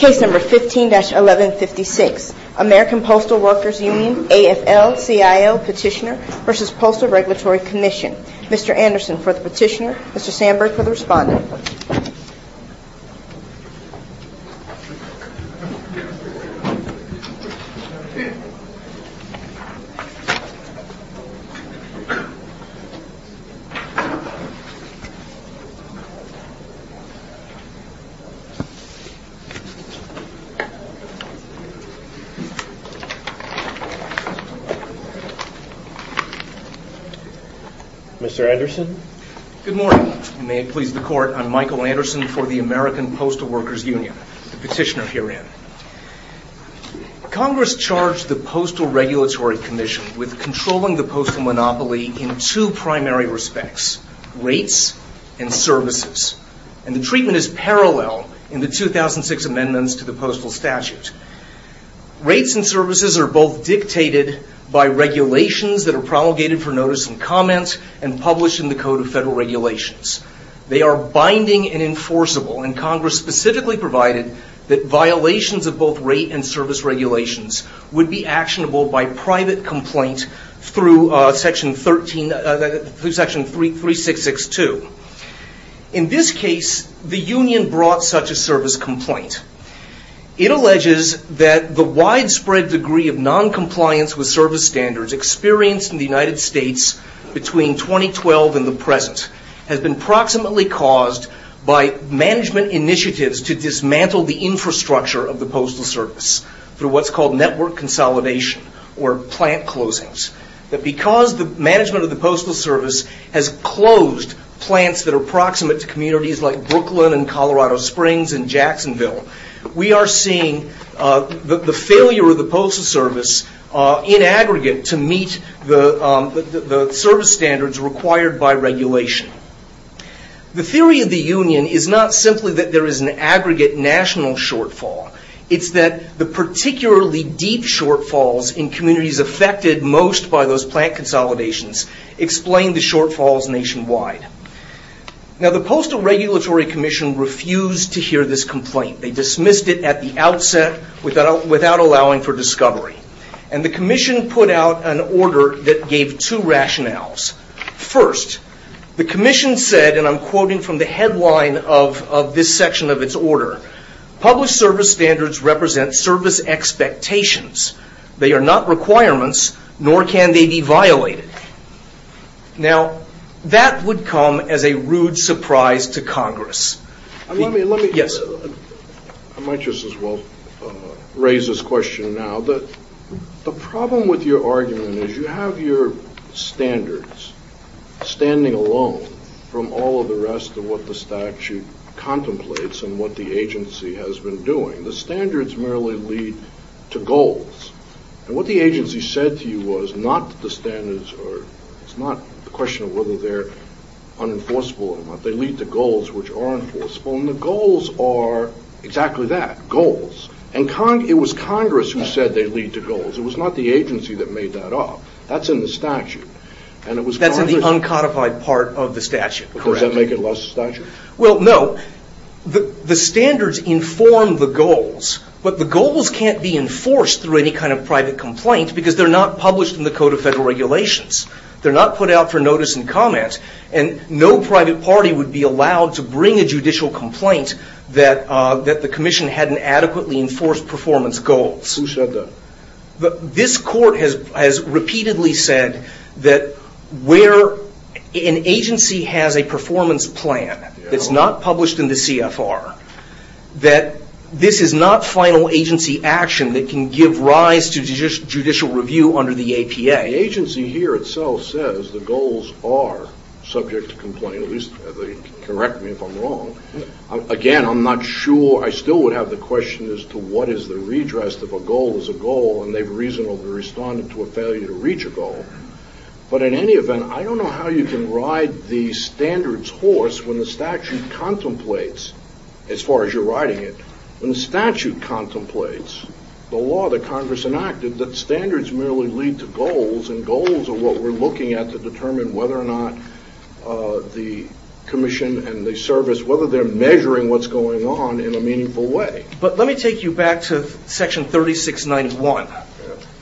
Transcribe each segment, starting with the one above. Case No. 15-1156, American Postal Workers Union, AFL-CIO Petitioner v. Postal Regulatory Commission. Mr. Anderson for the petitioner, Mr. Sandberg for the responder. Good morning. May it please the court, I'm Michael Anderson for the American Postal Workers Union, the petitioner herein. Congress charged the Postal Regulatory Commission with controlling the postal monopoly in two primary respects, rates and services. And the treatment is parallel in the 2006 amendments to the postal statute. Rates and services are both dictated by regulations that are promulgated for notice and comment and published in the Code of Federal Regulations. They are binding and enforceable and Congress specifically provided that violations of both rate and service regulations would be actionable by private complaint through section 3662. In this case, the union brought such a service complaint. It alleges that the widespread degree of noncompliance with service standards experienced in the United States between 2012 and the present has been proximately caused by management initiatives to dismantle the infrastructure of the postal service through what's called network consolidation or plant closings. That because the management of the postal service has closed plants that are proximate to communities like Brooklyn and Colorado Springs and Jacksonville, we are seeing the failure of the postal service in aggregate to meet the service standards required by regulation. The theory of the union is not simply that there is an aggregate national shortfall. It's that the particularly deep shortfalls in communities affected most by those plant consolidations explain the shortfalls nationwide. The Postal Regulatory Commission refused to hear this complaint. They dismissed it at the outset without allowing for discovery. The commission put out an order that gave two rationales. First, the commission said, and I'm quoting from the headline of this section of its order, published service standards represent service expectations. They are not requirements, nor can they be violated. Now, that would come as a rude surprise to Congress. Yes. And the goals are exactly that, goals. And it was Congress who said they lead to goals. It was not the agency that made that up. That's in the statute. That's in the uncodified part of the statute. Does that make it less of a statute? Well, no. The standards inform the goals. But the goals can't be enforced through any kind of private complaint because they're not published in the Code of Federal Regulations. They're not put out for notice and comment. And no private party would be allowed to bring a judicial complaint that the commission hadn't adequately enforced performance goals. Who said that? This court has repeatedly said that where an agency has a performance plan that's not published in the CFR, that this is not final agency action that can give rise to judicial review under the APA. The agency here itself says the goals are subject to complaint, at least they correct me if I'm wrong. Again, I'm not sure. I still would have the question as to what is the redress if a goal is a goal and they've reasonably responded to a failure to reach a goal. But in any event, I don't know how you can ride the standards horse when the statute contemplates, as far as you're riding it, when the statute contemplates the law that Congress enacted that standards merely lead to goals and goals are what we're looking at to determine whether or not the commission and the service, whether they're measuring what's going on in a meaningful way. But let me take you back to section 3691.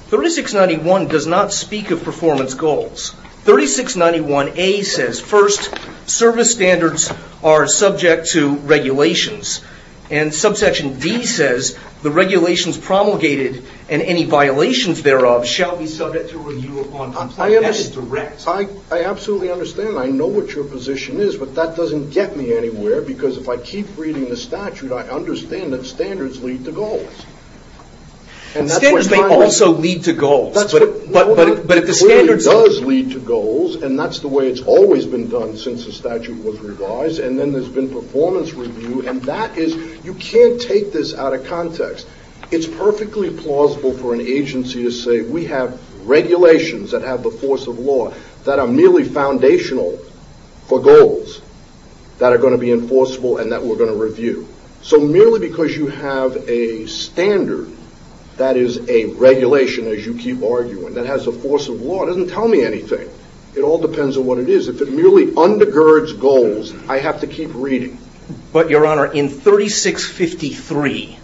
3691 does not speak of performance goals. 3691A says first, service standards are subject to regulations. And subsection D says the regulations promulgated and any violations thereof shall be subject to review upon complaint. I absolutely understand. I know what your position is, but that doesn't get me anywhere because if I keep reading the statute, I understand that standards lead to goals. Standards may also lead to goals. that are merely foundational for goals that are going to be enforceable and that we're going to review. So merely because you have a standard that is a regulation, as you keep arguing, that has a force of law doesn't tell me anything. It all depends on what it is. If it merely undergirds goals, I have to keep reading. But your honor, in 3653,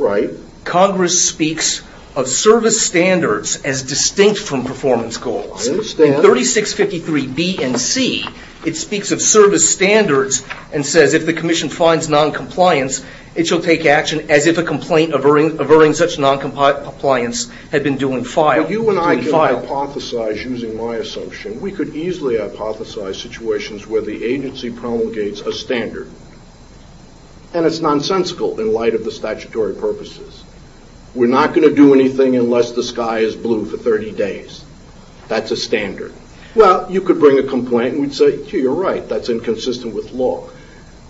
Congress speaks of service standards as distinct from performance goals. In 3653B and C, it speaks of service standards and says if the commission finds noncompliance, it shall take action as if a complaint averring such noncompliance had been due in file. Now you and I can hypothesize using my assumption. We could easily hypothesize situations where the agency promulgates a standard. And it's nonsensical in light of the statutory purposes. We're not going to do anything unless the sky is blue for 30 days. That's a standard. Well, you could bring a complaint and we'd say, yeah, you're right, that's inconsistent with law.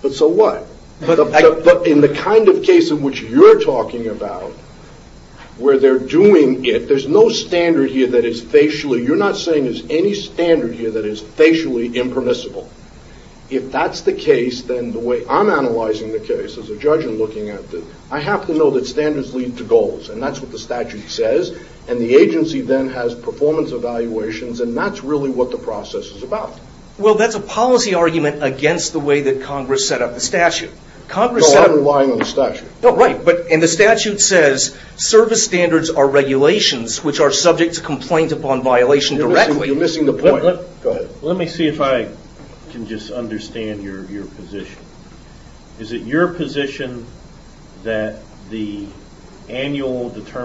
But so what? But in the kind of case in which you're talking about, where they're doing it, there's no standard here that is facially, you're not saying there's any standard here that is facially impermissible. If that's the case, then the way I'm analyzing the case as a judge and looking at this, I have to know that standards lead to goals. And that's what the statute says. And the agency then has performance evaluations. And that's really what the process is about. Well, that's a policy argument against the way that Congress set up the statute. No, I'm relying on the statute. No, right. And the statute says service standards are regulations which are subject to complaint upon violation directly. You're missing the point. Go ahead. Let me see if I can just understand your position. Is it your position that the annual determination...